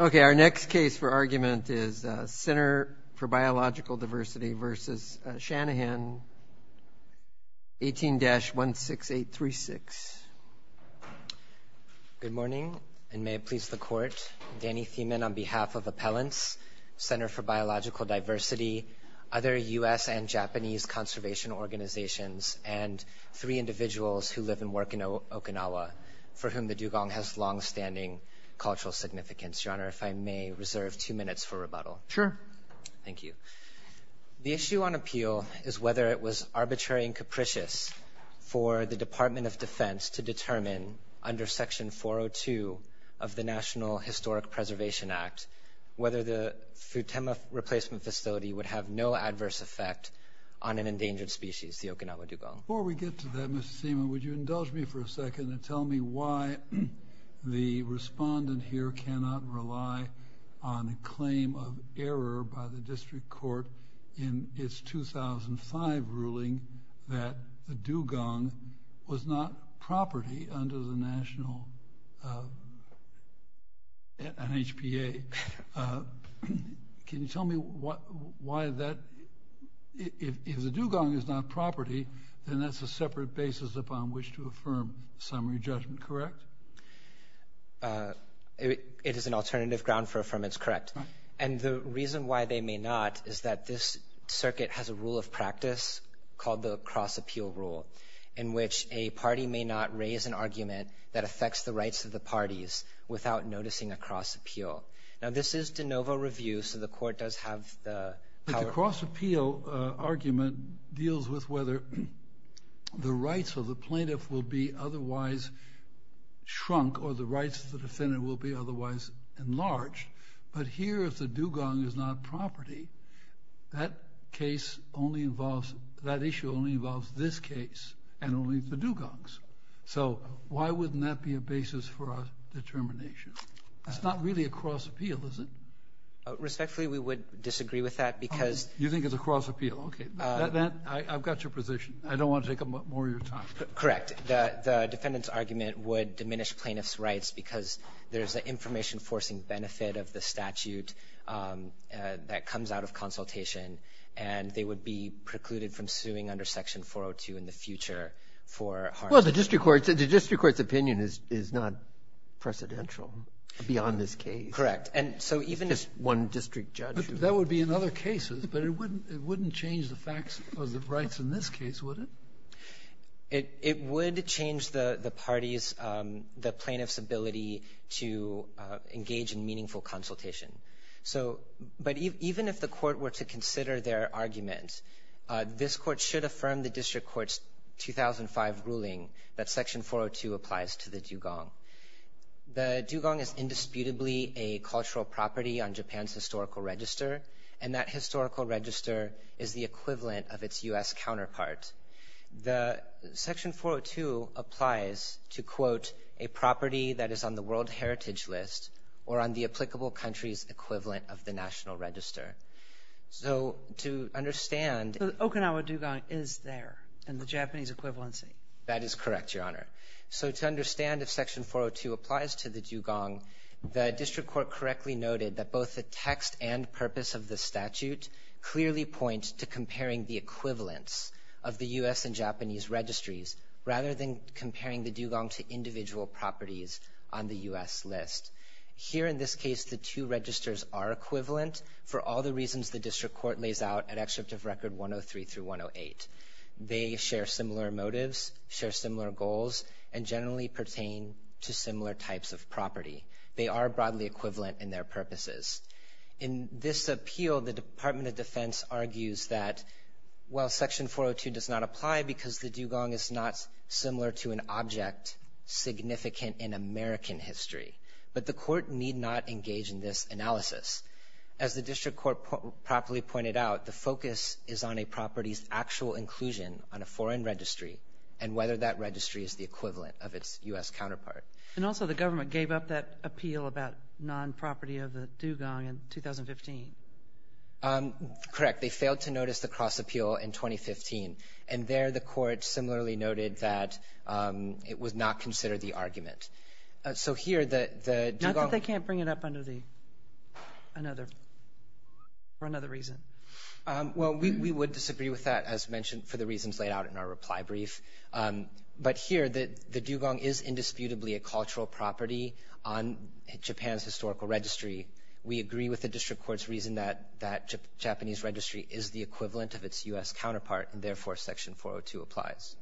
Okay, our next case for argument is Center for Biological Diversity v. Shanahan 18-16836 Good morning, and may it please the court, Danny Thieman on behalf of Appellants, Center for Biological Diversity, other US and Japanese conservation organizations, and three individuals who live and work in Okinawa, for whom the dugong has long-standing cultural significance. Your Honor, if I may, reserve two minutes for rebuttal. Sure. Thank you. The issue on appeal is whether it was arbitrary and capricious for the Department of Defense to determine, under Section 402 of the National Historic Preservation Act, whether the Futama replacement facility would have no adverse effect on an endangered species, the Okinawa dugong. Before we get to that, Mr. Thieman, would you indulge me for a second and tell me why the respondent here cannot rely on a claim of error by the district court in its 2005 ruling that the dugong was not property under the national and HPA. Can you tell me why that? If the dugong is not property, then that's a separate basis upon which to affirm summary judgment, correct? It is an alternative ground for affirmance, correct. And the reason why they may not is that this circuit has a rule of practice called the cross-appeal rule, in which a party may not raise an argument that affects the rights of the parties without noticing a cross-appeal. Now, this is de novo review, so the court does have the cross-appeal argument deals with whether the rights of the plaintiff will be otherwise shrunk or the rights of the defendant will be otherwise enlarged. But here, if the dugong is not property, that case only involves, that issue only involves this case and only the dugongs. So why wouldn't that be a basis for our determination? It's not really a cross-appeal, is it? Respectfully, we would disagree with that because... You think it's a cross-appeal, okay. I've got your position. I don't want to take up more of your time. Correct. The defendant's argument would diminish plaintiff's rights because there's an information-forcing benefit of the statute that comes out of consultation, and they would be precluded from suing under section 402 in the future for... Well, the district court's opinion is not presidential beyond this case. Correct. And so even if one district judge... That would be in other cases, but it wouldn't it wouldn't change the facts or the rights in this case, would it? It would change the party's, the plaintiff's ability to engage in meaningful consultation. So, but even if the court were to consider their argument, this court should affirm the district court's 2005 ruling that section 402 applies to the dugong. The dugong is indisputably a cultural property on Japan's historical register, and that historical register is the equivalent of its U.S. counterpart. The section 402 applies to, quote, a property that is on the World Heritage List or on the applicable country's equivalent of the National Register. So to understand... The Okinawa dugong is there in the Japanese equivalency. That is correct, Your Honor. So to understand if section 402 applies to the dugong, the district court correctly noted that both the text and purpose of the statute clearly point to comparing the equivalence of the U.S. and Japanese registries, rather than comparing the dugong to individual properties on the U.S. list. Here in this case, the two registers are equivalent for all the reasons the district court lays out at Excerpt of Record 103 through 108. They share similar motives, share similar goals, and generally pertain to similar types of property. They are broadly equivalent in their purposes. In this appeal, the Department of Defense argues that while section 402 does not apply because the dugong is not similar to an object significant in American history, but the court need not engage in this analysis. As the district court properly pointed out, the focus is on a property's actual inclusion on a foreign registry and whether that registry is the equivalent of its U.S. counterpart. And also the government gave up that appeal about non-property of the dugong in 2015. Correct. They failed to notice the cross-appeal in 2015, and there the court similarly noted that it was not considered the argument. So here, the dugong... Not that they can't bring it up under the... another... for another reason. Well, we would disagree with that, as mentioned, for the reasons laid out in our reply brief. But here, the dugong is indisputably a cultural property on Japan's historical registry. We agree with the district court's reason that that Japanese registry is the equivalent of its U.S. counterpart, and therefore section 402 applies.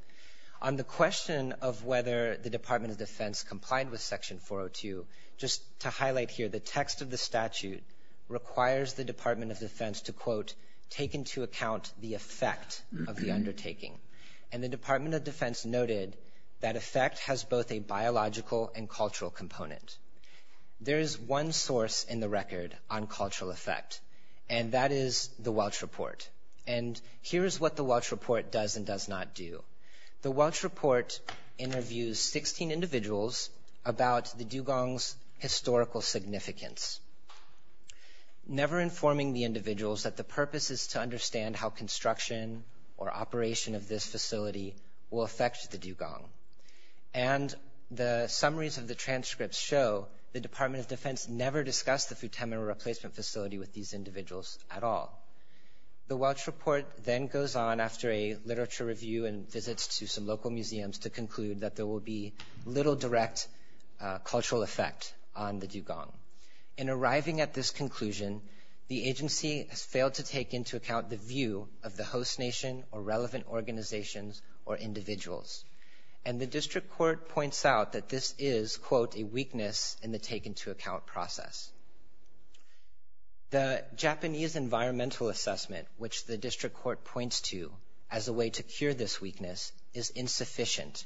On the question of whether the Department of Defense complied with section 402, just to highlight here, the text of the statute requires the Department of Defense to, quote, take into account the effect of the undertaking. And the Department of Defense noted that effect has both a biological and cultural component. There is one source in the record on cultural effect, and that is the Welch Report. And here is what the Welch Report does and does not do. The Welch Report interviews 16 individuals about the dugong's historical significance, never informing the individuals that the purpose is to understand how construction or operation of this facility will affect the dugong. And the summaries of the transcripts show the Department of Defense never discussed the Futami replacement facility with these individuals at all. The Welch Report then goes on after a literature review and visits to some local museums to conclude that there will be little direct cultural effect on the dugong. In arriving at this conclusion, the agency has failed to take into account the view of the host nation or relevant organizations or individuals. And the district court points out that this is, quote, a weakness in the take-into-account process. The Japanese environmental assessment, which the district court points to as a way to cure this weakness, is insufficient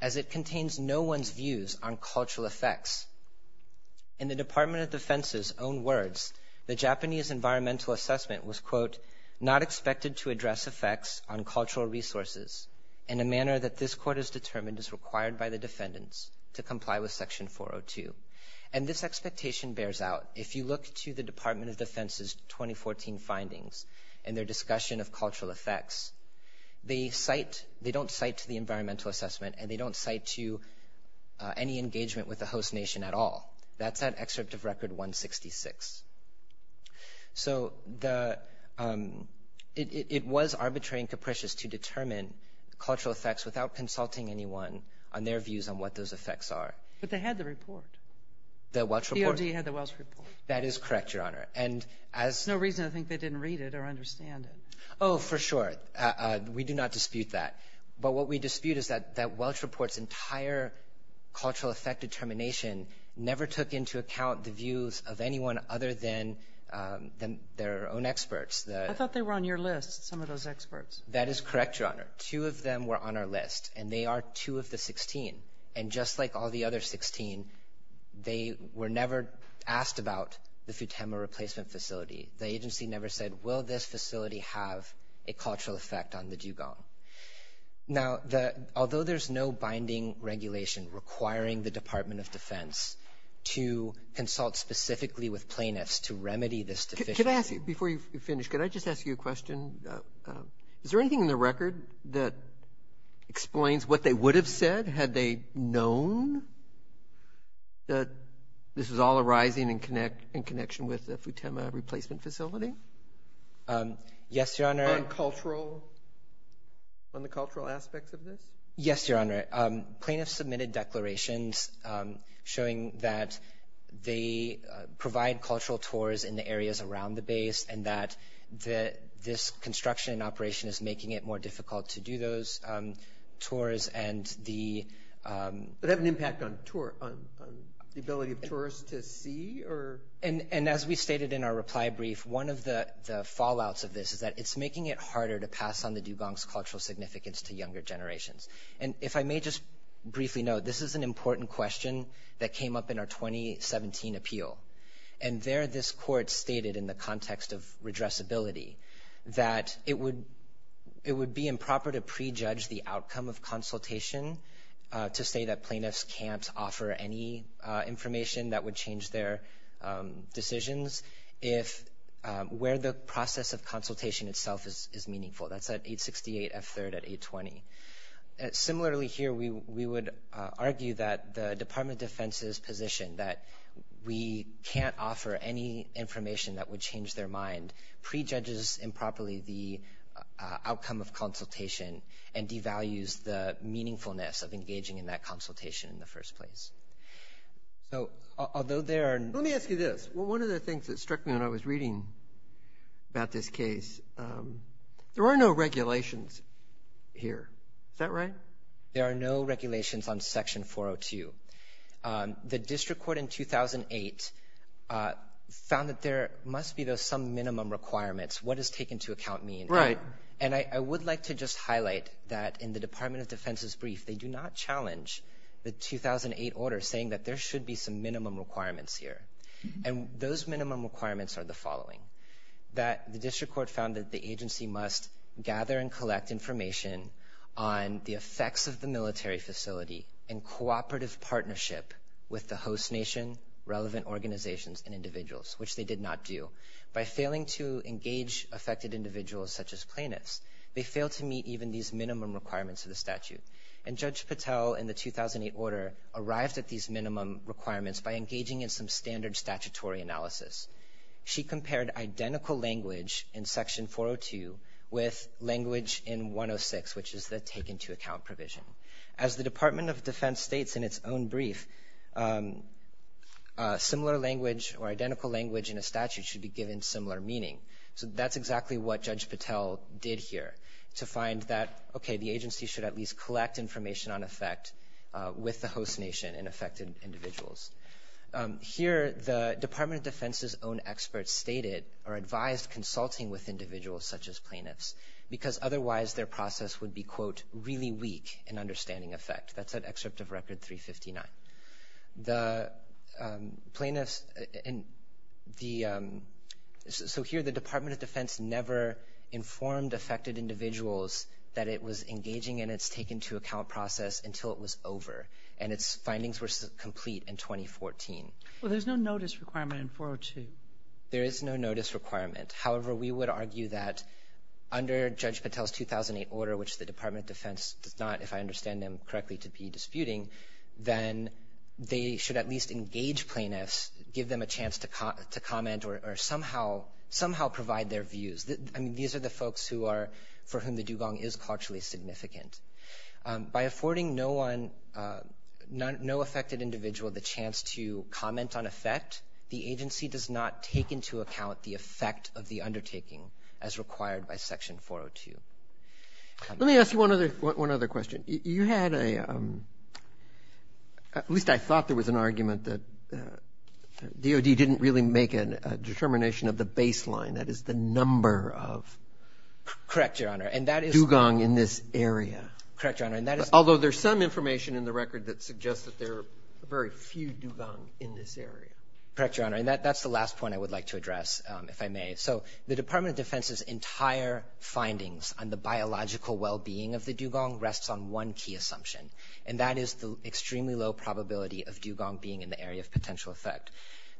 as it contains no one's views on cultural effects. In the Department of Defense's own words, the Japanese environmental assessment was, quote, not expected to address effects on cultural resources in a manner that this court has determined is required by the Department of Defense. The question bears out, if you look to the Department of Defense's 2014 findings and their discussion of cultural effects, they cite, they don't cite to the environmental assessment, and they don't cite to any engagement with the host nation at all. That's that excerpt of Record 166. So the, it was arbitrary and capricious to determine cultural effects without consulting anyone on their views on what those effects are. But they had the report. The Welch Report. DOD had the Welch Report. That is correct, Your Honor. And as... No reason I think they didn't read it or understand it. Oh, for sure. We do not dispute that. But what we dispute is that that Welch Report's entire cultural effect determination never took into account the views of anyone other than their own experts. I thought they were on your list, some of those experts. That is correct, Your Honor. Two of them were on our list, and they are two of the 16. And just like all the other 16, they were never asked about the Futema Replacement Facility. The agency never said, will this facility have a cultural effect on the dugong? Now, the, although there's no binding regulation requiring the Department of Defense to consult specifically with plaintiffs to remedy this deficiency... Can I ask you, before you finish, could I just ask you a question? Is there anything in the record that explains what they would have said had they known that this was all arising in connection with the Futema Replacement Facility? Yes, Your Honor. On cultural, on the cultural aspects of this? Yes, Your Honor. Plaintiffs submitted declarations showing that they provide cultural tours in the areas around the base and that this construction and operation is making it more difficult to do those tours and the... Would it have an impact on tour, on the ability of tourists to see, or... And as we stated in our reply brief, one of the fallouts of this is that it's making it harder to pass on the dugong's cultural significance to younger generations. And if I may just briefly note, this is an important question that came up in our 2017 appeal. And there, this court stated in the context of redressability that it would, it would be improper to prejudge the outcome of consultation to say that plaintiffs can't offer any information that would change their decisions if where the process of consultation itself is meaningful. That's at 868 F3rd at 820. Similarly here, we would argue that the Department of Defense's position that we can't offer any information that would change their mind prejudges improperly the meaningfulness of engaging in that consultation in the first place. So, although there are... Let me ask you this. Well, one of the things that struck me when I was reading about this case, there are no regulations here. Is that right? There are no regulations on Section 402. The district court in 2008 found that there must be though some minimum requirements. What does take into account mean? Right. And I would like to just highlight that in the Department of Defense's brief, they do not challenge the 2008 order saying that there should be some minimum requirements here. And those minimum requirements are the following. That the district court found that the agency must gather and collect information on the effects of the military facility in cooperative partnership with the host nation, relevant organizations, and individuals, which they did not do. By failing to engage affected individuals such as plaintiffs, they fail to meet even these minimum requirements of the statute. And Judge Patel in the 2008 order arrived at these minimum requirements by engaging in some standard statutory analysis. She compared identical language in Section 402 with language in 106, which is the take into account provision. As the Department of Defense states in its own brief, a similar language or identical language in a statute should be given similar meaning. So that's exactly what Judge Patel did here to find that, okay, the agency should at least collect information on effect with the host nation and affected individuals. Here the Department of Defense's own experts stated or advised consulting with individuals such as plaintiffs because otherwise their process would be, quote, really weak in understanding effect. That's an excerpt of Record 359. The plaintiffs in the so here the Department of Defense never informed affected individuals that it was engaging in its take into account process until it was over and its findings were complete in 2014. Well, there's no notice requirement in 402. There is no notice requirement. However, we would argue that under Judge Patel's 2008 order, which the Department of Defense does not, if I understand them correctly, to be disputing, then they should at least engage plaintiffs, give them a chance to comment or somehow provide their views. I mean, these are the folks who are, for whom the dugong is culturally significant. By affording no one, no affected individual the chance to comment on effect, the agency does not take into account the effect of the undertaking as required by Section 402. Let me ask you one other question. You had a at least I thought there was an argument that DOD didn't really make a determination of the baseline. That is the number of Correct, Your Honor. And that is dugong in this area. Correct, Your Honor. And that is although there's some information in the record that suggests that there are very few dugong in this area. Correct, Your Honor. And that that's the last point I would like to address if I may. So the Department of Defense's entire findings on the biological well-being of the dugong rests on one key assumption. And that is the extremely low probability of dugong being in the area of potential effect.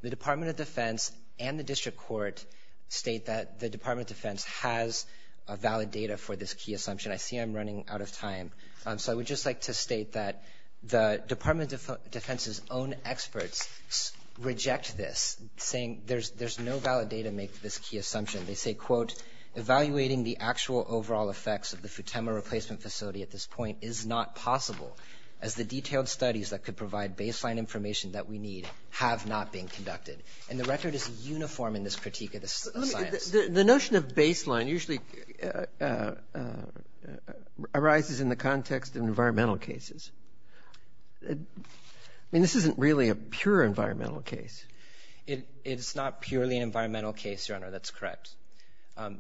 The Department of Defense and the District Court state that the Department of Defense has a valid data for this key assumption. I see I'm running out of time. So I would just like to state that the Department of Defense's own experts reject this, saying there's there's no valid data make this key assumption. They say, quote, evaluating the actual overall effects of the Futema replacement facility at this point is not possible, as the detailed studies that could provide baseline information that we need have not been conducted. And the record is uniform in this critique of the science. The notion of baseline usually arises in the context of environmental cases. I mean, this isn't really a pure environmental case. It's not purely an environmental case, Your Honor. That's correct.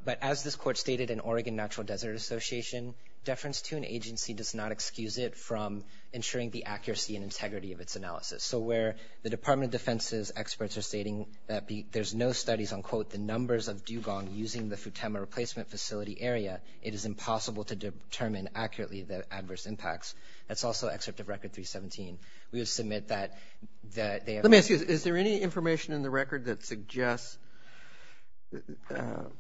But as this court stated in Oregon Natural Desert Association, deference to an agency does not excuse it from ensuring the accuracy and integrity of its analysis. So where the Department of Defense's experts are stating that there's no studies on, quote, the numbers of dugong using the Futema replacement facility area, it is impossible to determine accurately the adverse impacts. That's also excerpt of Record 317. We would submit that they have... Let me ask you, is there any information in the record that suggests that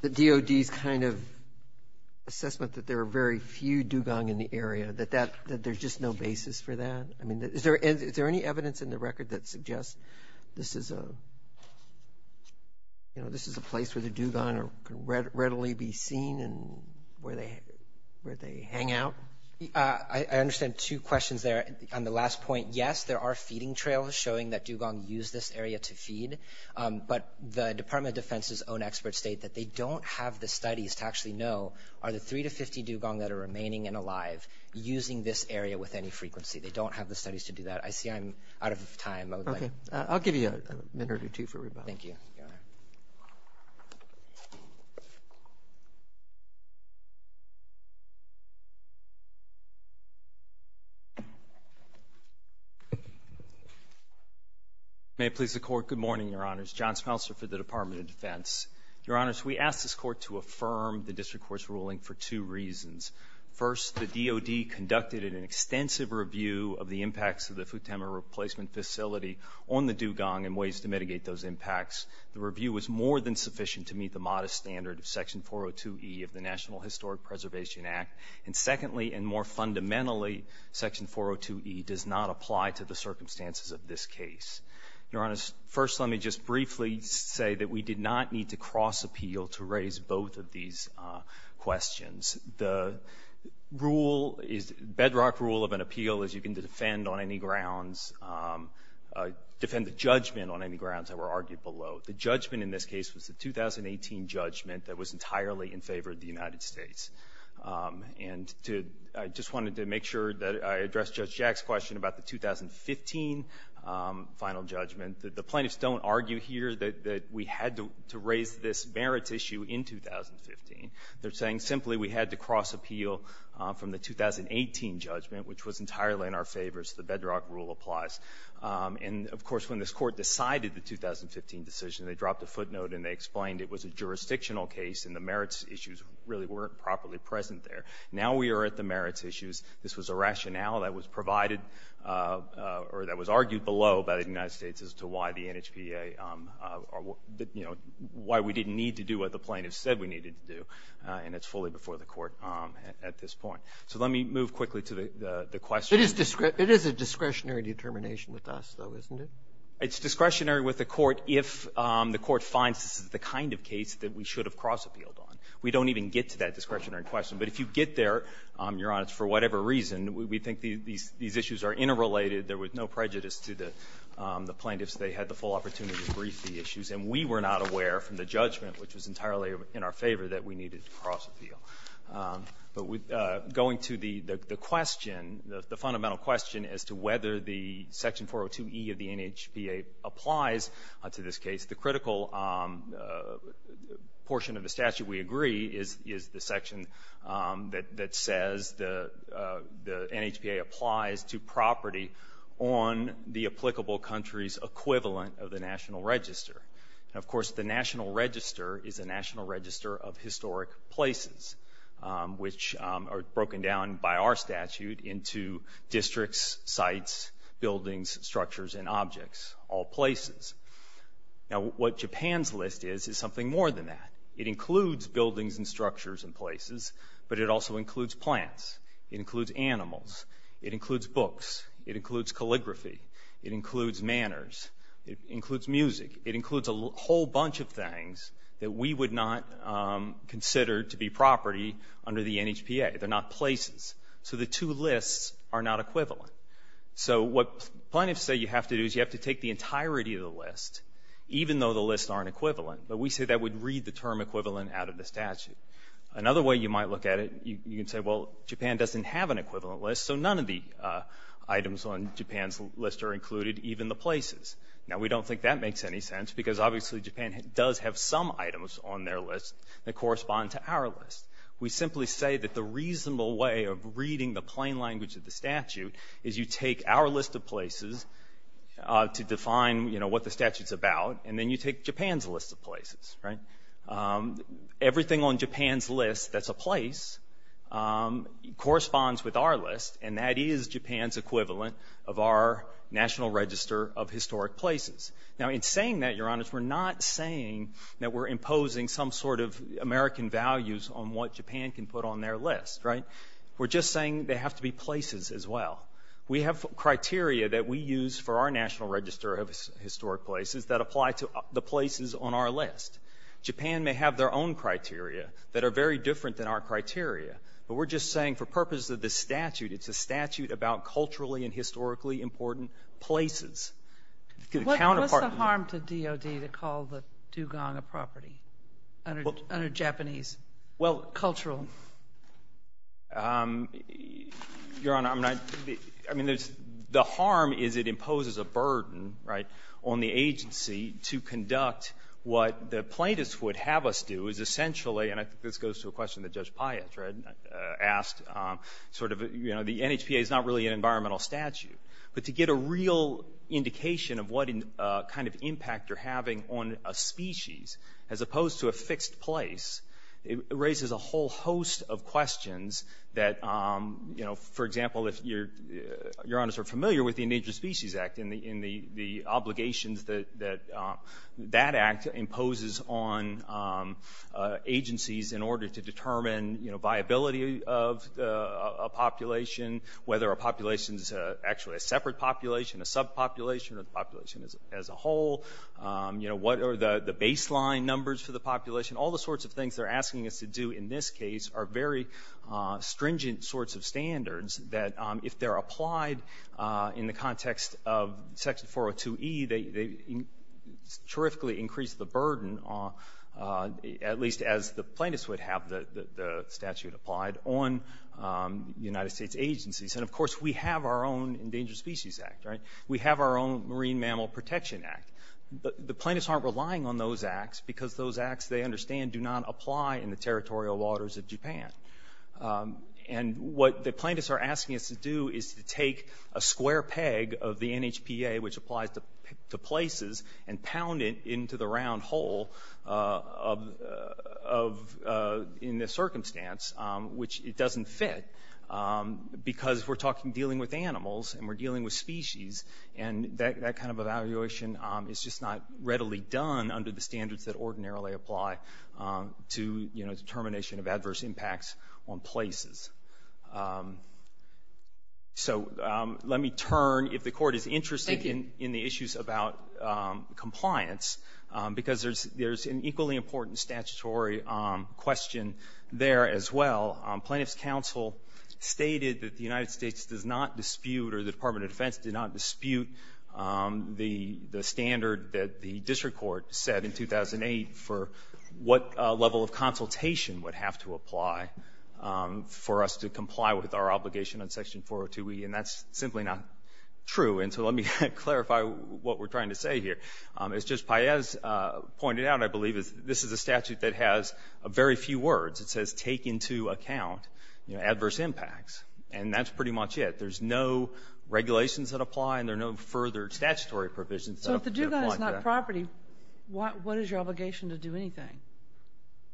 the DOD's kind of assessment that there are very few dugong in the area, that there's just no basis for that? I mean, is there any evidence in the record that suggests this is a place where the dugong can readily be seen and where they hang out? I understand two questions there. On the last point, yes, there are feeding trails showing that dugong use this area to feed, but the Department of Defense's own experts state that they don't have the studies to actually know, are the three to 50 dugong that are remaining and alive using this area with any frequency? They don't have the studies to do that. I see I'm out of time. I'll give you a minute or two for rebuttal. Thank you, Your Honor. May it please the Court, good morning, Your Honors. John Smeltzer for the Department of Defense. Your Honors, we asked this Court to affirm the District Court's ruling for two reasons. First, the DOD conducted an extensive review of the impacts of the Futama Replacement Facility on the dugong and ways to mitigate those impacts. The review was more than sufficient to meet the modest standard of Section 402e of the National Historic Preservation Act. And secondly, and more fundamentally, Section 402e does not apply to the circumstances of this case. Your Honors, first, let me just briefly say that we did not need to cross-appeal to raise both of these questions. The bedrock rule of an appeal is you can defend on any grounds, defend the judgment on any grounds that were argued below. The judgment in this case was the 2018 judgment that was entirely in favor of the United States. And I just wanted to make sure that I addressed Judge Jack's question about the 2015 final judgment. The plaintiffs don't argue here that we had to raise this merits issue in 2015. They're saying simply we had to cross-appeal from the 2018 judgment, which was entirely in our favor. So the bedrock rule applies. And of course, when this Court decided the 2015 decision, they dropped a footnote and they explained it was a jurisdictional case and the merits issues really weren't properly present there. Now we are at the merits issues. This was a rationale that was provided or that was argued below by the United States as to why the NHPA, you know, why we didn't need to do what the plaintiffs said we needed to do. And it's fully before the Court at this point. So let me move quickly to the question. It is a discretionary determination with us, though, isn't it? It's discretionary with the Court if the Court finds this is the kind of case that we should have cross-appealed on. We don't even get to that discretionary question. But if you get there, Your Honor, for whatever reason, we think these issues are interrelated. There was no prejudice to the plaintiffs. They had the full opportunity to brief the issues. And we were not aware from the judgment, which was entirely in our favor, that we needed to cross-appeal. But going to the question, the fundamental question as to whether the Section 402e of the NHPA applies to this case, the critical portion of the statute, we agree, is the section that says the NHPA applies to property on the applicable country's equivalent of the National Register. Of course, the National Register is a national register of historic places. Which are broken down by our statute into districts, sites, buildings, structures, and objects, all places. Now, what Japan's list is, is something more than that. It includes buildings and structures and places, but it also includes plants. It includes animals. It includes books. It includes calligraphy. It includes manners. It includes music. It includes a whole bunch of things that we would not consider to be property under the NHPA. They're not places. So the two lists are not equivalent. So what plaintiffs say you have to do is you have to take the entirety of the list, even though the lists aren't equivalent. But we say that would read the term equivalent out of the statute. Another way you might look at it, you can say, well, Japan doesn't have an equivalent list, so none of the items on Japan's list are included, even the places. Now, we don't think that makes any sense, because obviously Japan does have some items on their list that correspond to our list. We simply say that the reasonable way of reading the plain language of the statute is you take our list of places to define, you know, what the statute's about, and then you take Japan's list of places, right? Everything on Japan's list that's a place corresponds with our list, and that is Japan's equivalent of our National Register of Historic Places. Now, in saying that, Your Honor, we're not saying that we're imposing some sort of American values on what Japan can put on their list, right? We're just saying they have to be places as well. We have criteria that we use for our National Register of Historic Places that apply to the places on our list. Japan may have their own criteria that are very different than our criteria, but we're just saying for purposes of this statute, it's a statute about culturally and historically important places. What's the harm to DOD to call the dugong a property under Japanese cultural? Your Honor, I mean, the harm is it imposes a burden, right, on the agency to conduct what the plaintiffs would have us do is essentially, and I think this goes to a question that Judge Piatt asked, sort of, you know, the NHPA is not really an environmental statute. But to get a real indication of what kind of impact you're having on a species, as opposed to a fixed place, it raises a whole host of questions that, you know, for example, if Your Honors are familiar with the Endangered Species Act and the obligations that that act imposes on agencies in order to determine, you know, viability of a population, whether a population is actually a separate population, a sub-population, or the population as a whole, you know, what are the baseline numbers for the population, all the sorts of things they're asking us to do in this case are very stringent sorts of standards that if they're applied in the context of Section 402e, they terrifically increase the burden, at least as the plaintiffs would have the statute applied on United States agencies. And of course, we have our own Endangered Species Act, right? We have our own Marine Mammal Protection Act. The plaintiffs aren't relying on those acts because those acts, they understand, do not apply in the territorial waters of Japan. And what the plaintiffs are asking us to do is to take a square peg of the NHPA, which applies to places, and pound it into the round hole of, in this circumstance, which it doesn't fit, because we're talking, dealing with animals, and we're dealing with species, and that kind of evaluation is just not readily done under the standards that ordinarily apply to, you know, determination of adverse impacts. So let me turn, if the Court is interested in the issues about compliance, because there's an equally important statutory question there as well. Plaintiff's counsel stated that the United States does not dispute, or the Department of Defense did not dispute, the standard that the district court set in 2008 for what level of consultation would have to apply for us to comply with our obligation on Section 402e, and that's simply not true. And so let me clarify what we're trying to say here. As Judge Paez pointed out, I believe, this is a statute that has very few words. It says, take into account adverse impacts, and that's pretty much it. There's no regulations that apply, and there are no further statutory provisions that apply to that. So if the dugong is not property, what is your obligation to do anything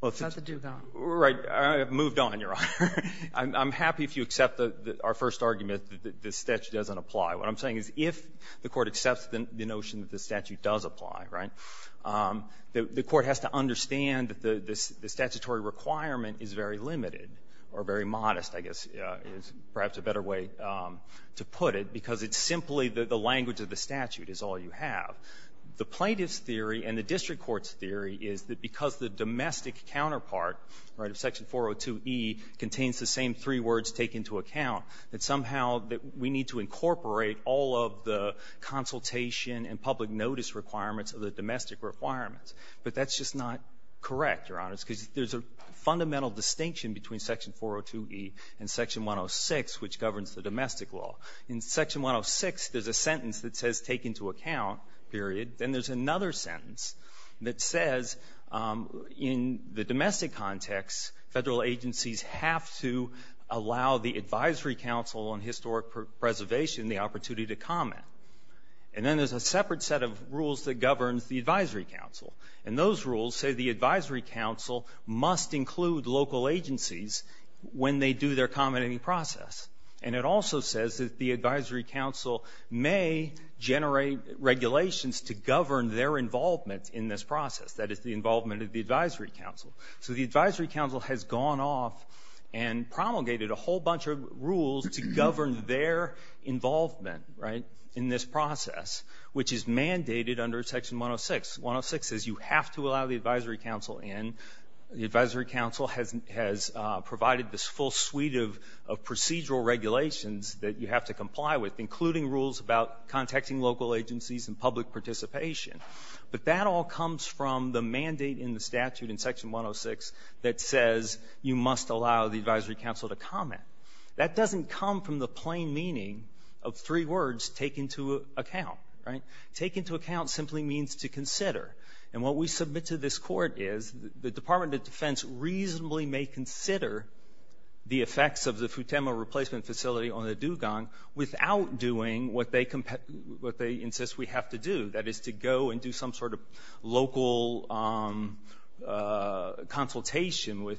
about the dugong? Right. I've moved on, Your Honor. I'm happy if you accept our first argument that this statute doesn't apply. What I'm saying is, if the Court accepts the notion that the statute does apply, right, the Court has to understand that the statutory requirement is very limited, or very modest, I guess, is perhaps a better way to put it, because it's simply that the language of the statute is all you have. The plaintiff's theory and the district court's theory is that because the domestic counterpart, right, of Section 402e contains the same three words, take into account, that somehow that we need to incorporate all of the consultation and public notice requirements of the domestic requirements. But that's just not correct, Your Honor, because there's a fundamental distinction between Section 402e and Section 106, which governs the domestic law. In Section 106, there's a sentence that says, take into account, period. Then there's another sentence that says, in the domestic context, federal agencies have to allow the Advisory Council on Historic Preservation the opportunity to comment. And then there's a separate set of rules that governs the Advisory Council. And those rules say the Advisory Council must include local agencies when they do their commenting process. And it also says that the Advisory Council may generate regulations to govern their involvement in this process, that is, the involvement of the Advisory Council. So the Advisory Council has gone off and promulgated a whole bunch of rules to govern their involvement, right, in this process, which is mandated under Section 106. 106 says you have to allow the Advisory Council in. The Advisory Council has provided this full suite of procedural regulations that you have to comply with, including rules about contacting local agencies and public participation. But that all comes from the mandate in the statute in Section 106 that says you must allow the Advisory Council to comment. That doesn't come from the plain meaning of three words, take into account, right? Take into account simply means to consider. And what we submit to this court is the Department of Defense reasonably may consider the effects of the Futama replacement facility on the Dugong without doing what they insist we have to do. That is to go and do some sort of local consultation with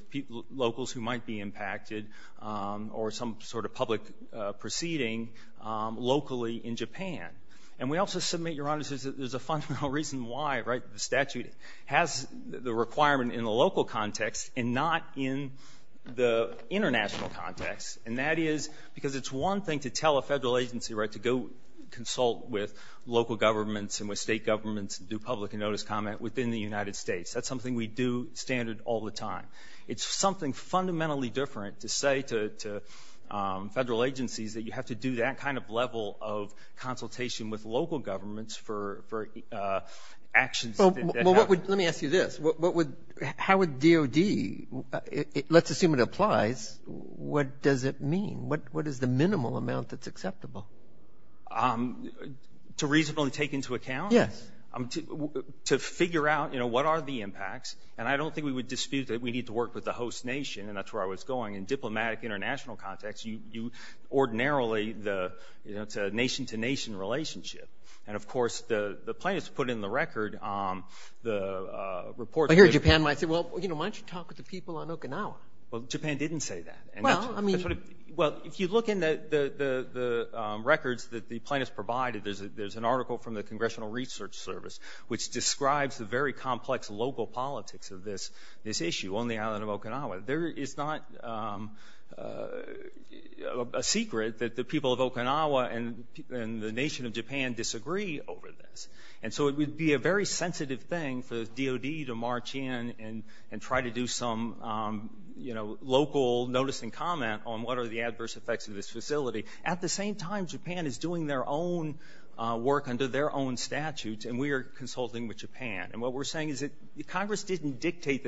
locals who might be impacted or some sort of public proceeding locally in Japan. And we also submit, Your Honor, there's a fundamental reason why, right, the statute has the requirement in the local context and not in the international context. And that is because it's one thing to tell a federal agency, right, to go consult with local governments and with state governments and do public notice comment within the United States. That's something we do standard all the time. It's something fundamentally different to say to federal agencies that you have to do that kind of level of consultation with local governments for actions that happen. Let me ask you this, how would DOD, let's assume it applies, what does it mean? What is the minimal amount that's acceptable? To reasonably take into account? Yes. To figure out, you know, what are the impacts? And I don't think we would dispute that we need to work with the host nation, and that's where I was going. In diplomatic international context, you ordinarily, you know, it's a nation-to-nation relationship. And, of course, the plaintiffs put in the record the report. I hear Japan might say, well, you know, why don't you talk with the people on Okinawa? Well, Japan didn't say that. Well, I mean. Which describes the very complex local politics of this issue on the island of Okinawa. There is not a secret that the people of Okinawa and the nation of Japan disagree over this. And so it would be a very sensitive thing for DOD to march in and try to do some, you know, local notice and comment on what are the adverse effects of this facility. At the same time, Japan is doing their own work under their own statutes. And we are consulting with Japan. And what we're saying is that Congress didn't dictate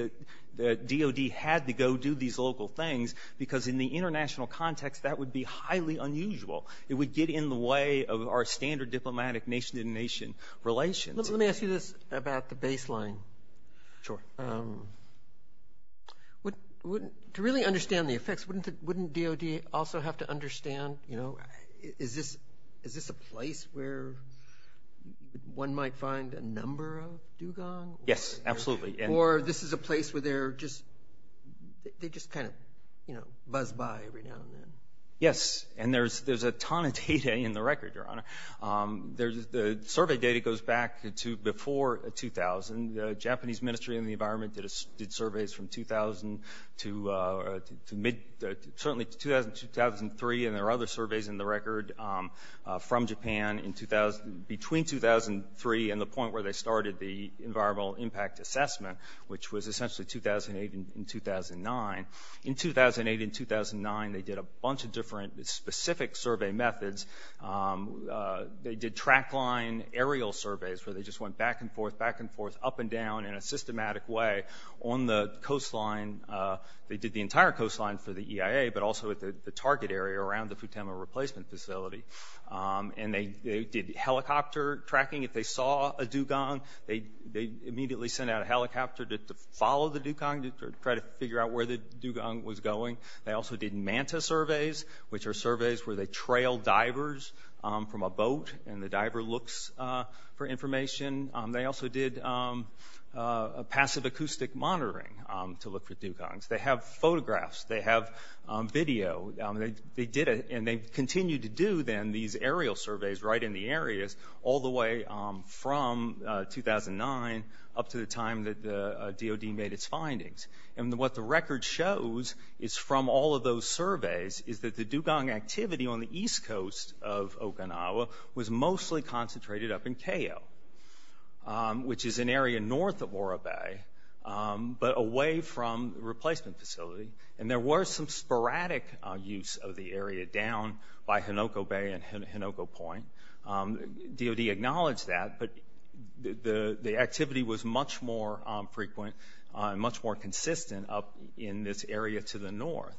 that DOD had to go do these local things, because in the international context, that would be highly unusual. It would get in the way of our standard diplomatic nation-to-nation relations. Let me ask you this about the baseline. Sure. To really understand the effects, wouldn't DOD also have to understand, you know, is this a place where one might find a number of dugong? Yes, absolutely. Or this is a place where they're just, they just kind of, you know, buzz by every now and then? Yes. And there's a ton of data in the record, Your Honor. The survey data goes back to before 2000. The Japanese Ministry of the Environment did surveys from 2000 to mid, certainly 2000, 2003. And there are other surveys in the record from Japan in 2000, between 2003 and the point where they started the environmental impact assessment, which was essentially 2008 and 2009. In 2008 and 2009, they did a bunch of different specific survey methods. They did track line aerial surveys, where they just went back and forth, back and forth, up and down in a systematic way on the coastline. They did the entire coastline for the EIA, but also at the target area around the Futama replacement facility. And they did helicopter tracking. If they saw a dugong, they immediately sent out a helicopter to follow the dugong, to try to figure out where the dugong was going. They also did manta surveys, which are surveys where they trail divers from a boat, and the diver looks for information. They also did passive acoustic monitoring to look for dugongs. They have photographs. They have video. They did it, and they continued to do, then, these aerial surveys right in the areas, all the way from 2009 up to the time that the DOD made its findings. And what the record shows is, from all of those surveys, is that the dugong activity on the east coast of Okinawa was mostly concentrated up in Keio, which is an area north of Ora Bay, but away from the replacement facility. And there was some sporadic use of the area down by Hinoko Bay and Hinoko Point. DOD acknowledged that, but the activity was much more frequent, much more consistent up in this area to the north.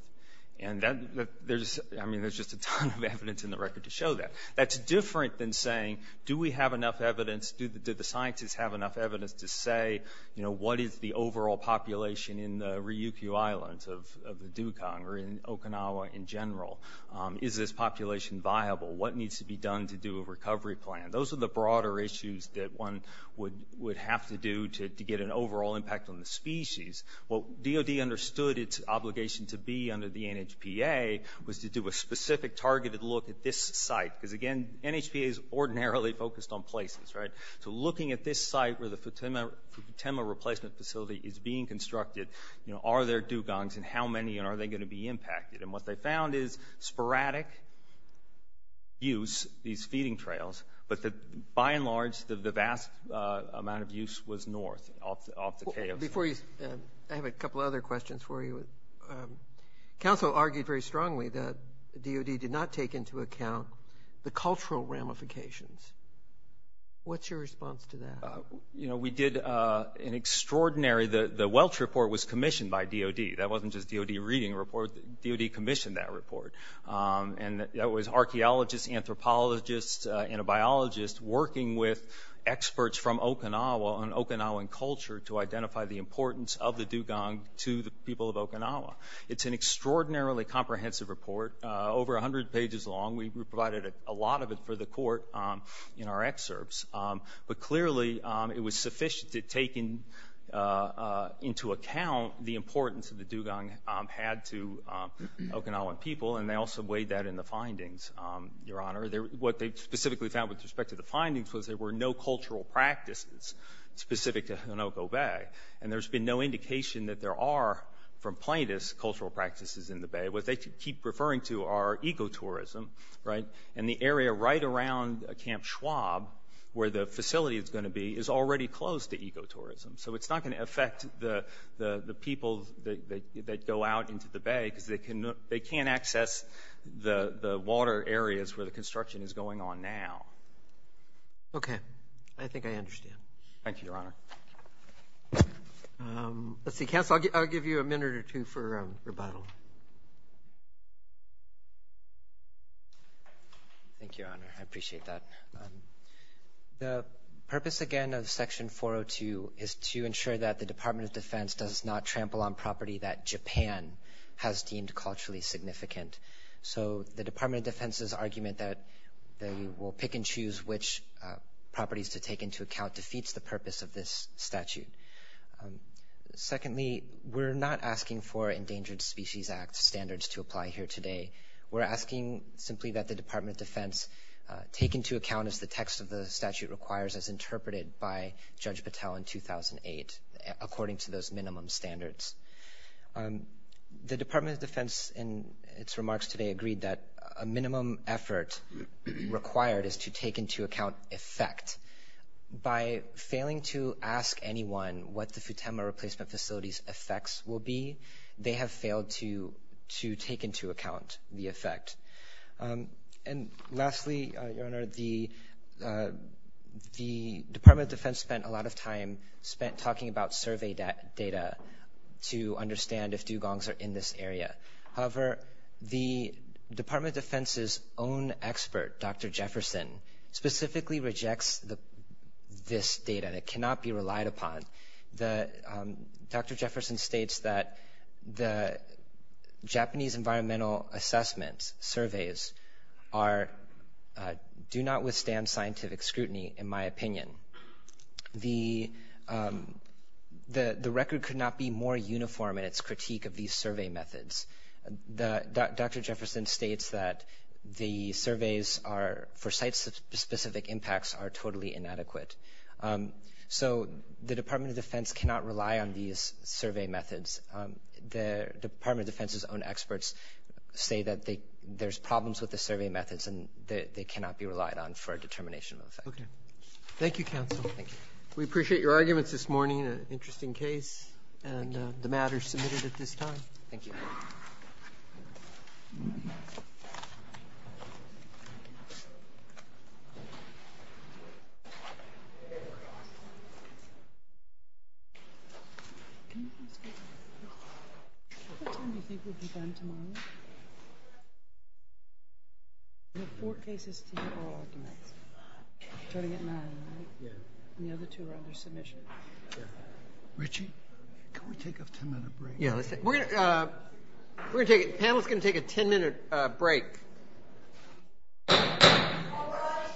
And that, there's, I mean, there's just a ton of evidence in the record to show that. That's different than saying, do we have enough evidence, do the scientists have enough evidence to say, you know, what is the overall population in the Ryukyu Islands of the dugong, or in Okinawa in general? Is this population viable? What needs to be done to do a recovery plan? Those are the broader issues that one would have to do to get an overall impact on the species. What DOD understood its obligation to be under the NHPA was to do a specific targeted look at this site, because again, NHPA is ordinarily focused on places, right? So looking at this site where the Futema replacement facility is being constructed, you know, are there dugongs, and how many, and are they going to be impacted? And what they found is sporadic use, these feeding trails, but by and large, the vast majority of the sites are not affected by DOD. Before you, I have a couple other questions for you. Council argued very strongly that DOD did not take into account the cultural ramifications. What's your response to that? You know, we did an extraordinary, the Welch Report was commissioned by DOD. That wasn't just DOD reading a report, DOD commissioned that report. And that was archaeologists, anthropologists, and a biologist working with experts from the importance of the dugong to the people of Okinawa. It's an extraordinarily comprehensive report, over 100 pages long. We provided a lot of it for the court in our excerpts, but clearly it was sufficient to take into account the importance of the dugong had to Okinawan people, and they also weighed that in the findings, Your Honor. What they specifically found with respect to the findings was there were no cultural practices specific to Honoko Bay, and there's been no indication that there are, from plaintiffs, cultural practices in the bay. What they keep referring to are ecotourism, right, and the area right around Camp Schwab, where the facility is going to be, is already closed to ecotourism. So it's not going to affect the people that go out into the bay, because they can't access the water areas where the construction is going on now. Okay. I think I understand. Thank you, Your Honor. Let's see, counsel, I'll give you a minute or two for rebuttal. Thank you, Your Honor. I appreciate that. The purpose, again, of Section 402 is to ensure that the Department of Defense does not trample on property that Japan has deemed culturally significant. So the Department of Defense's argument that they will pick and choose which properties to take into account defeats the purpose of this statute. Secondly, we're not asking for Endangered Species Act standards to apply here today. We're asking simply that the Department of Defense take into account, as the text of the statute requires, as interpreted by Judge Patel in 2008, according to those minimum standards. The Department of Defense, in its remarks today, agreed that a minimum effort required is to take into account effect. By failing to ask anyone what the Futenma replacement facility's effects will be, they have failed to take into account the effect. And lastly, Your Honor, the Department of Defense spent a lot of time talking about survey data to understand if dugongs are in this area. However, the Department of Defense's own expert, Dr. Jefferson, specifically rejects this data. It cannot be relied upon. Dr. Jefferson states that the Japanese environmental assessment surveys are – do not withstand scientific scrutiny, in my opinion. The record could not be more uniform in its critique of these survey methods. Dr. Jefferson states that the surveys for site-specific impacts are totally inadequate. So the Department of Defense cannot rely on these survey methods. The Department of Defense's own experts say that there's problems with the survey methods and they cannot be relied on for a determination of effect. Thank you, Counsel. Thank you. We appreciate your arguments this morning. An interesting case. Thank you. And the matter is submitted at this time. Thank you. What time do you think we'll be done tomorrow? We have four cases to go. Starting at 9, right? Yeah. And the other two are under submission. Yeah. Richie, can we take a 10-minute break? Yeah, let's take – we're going to – we're going to take – the panel is going to take a 10-minute break. All rise.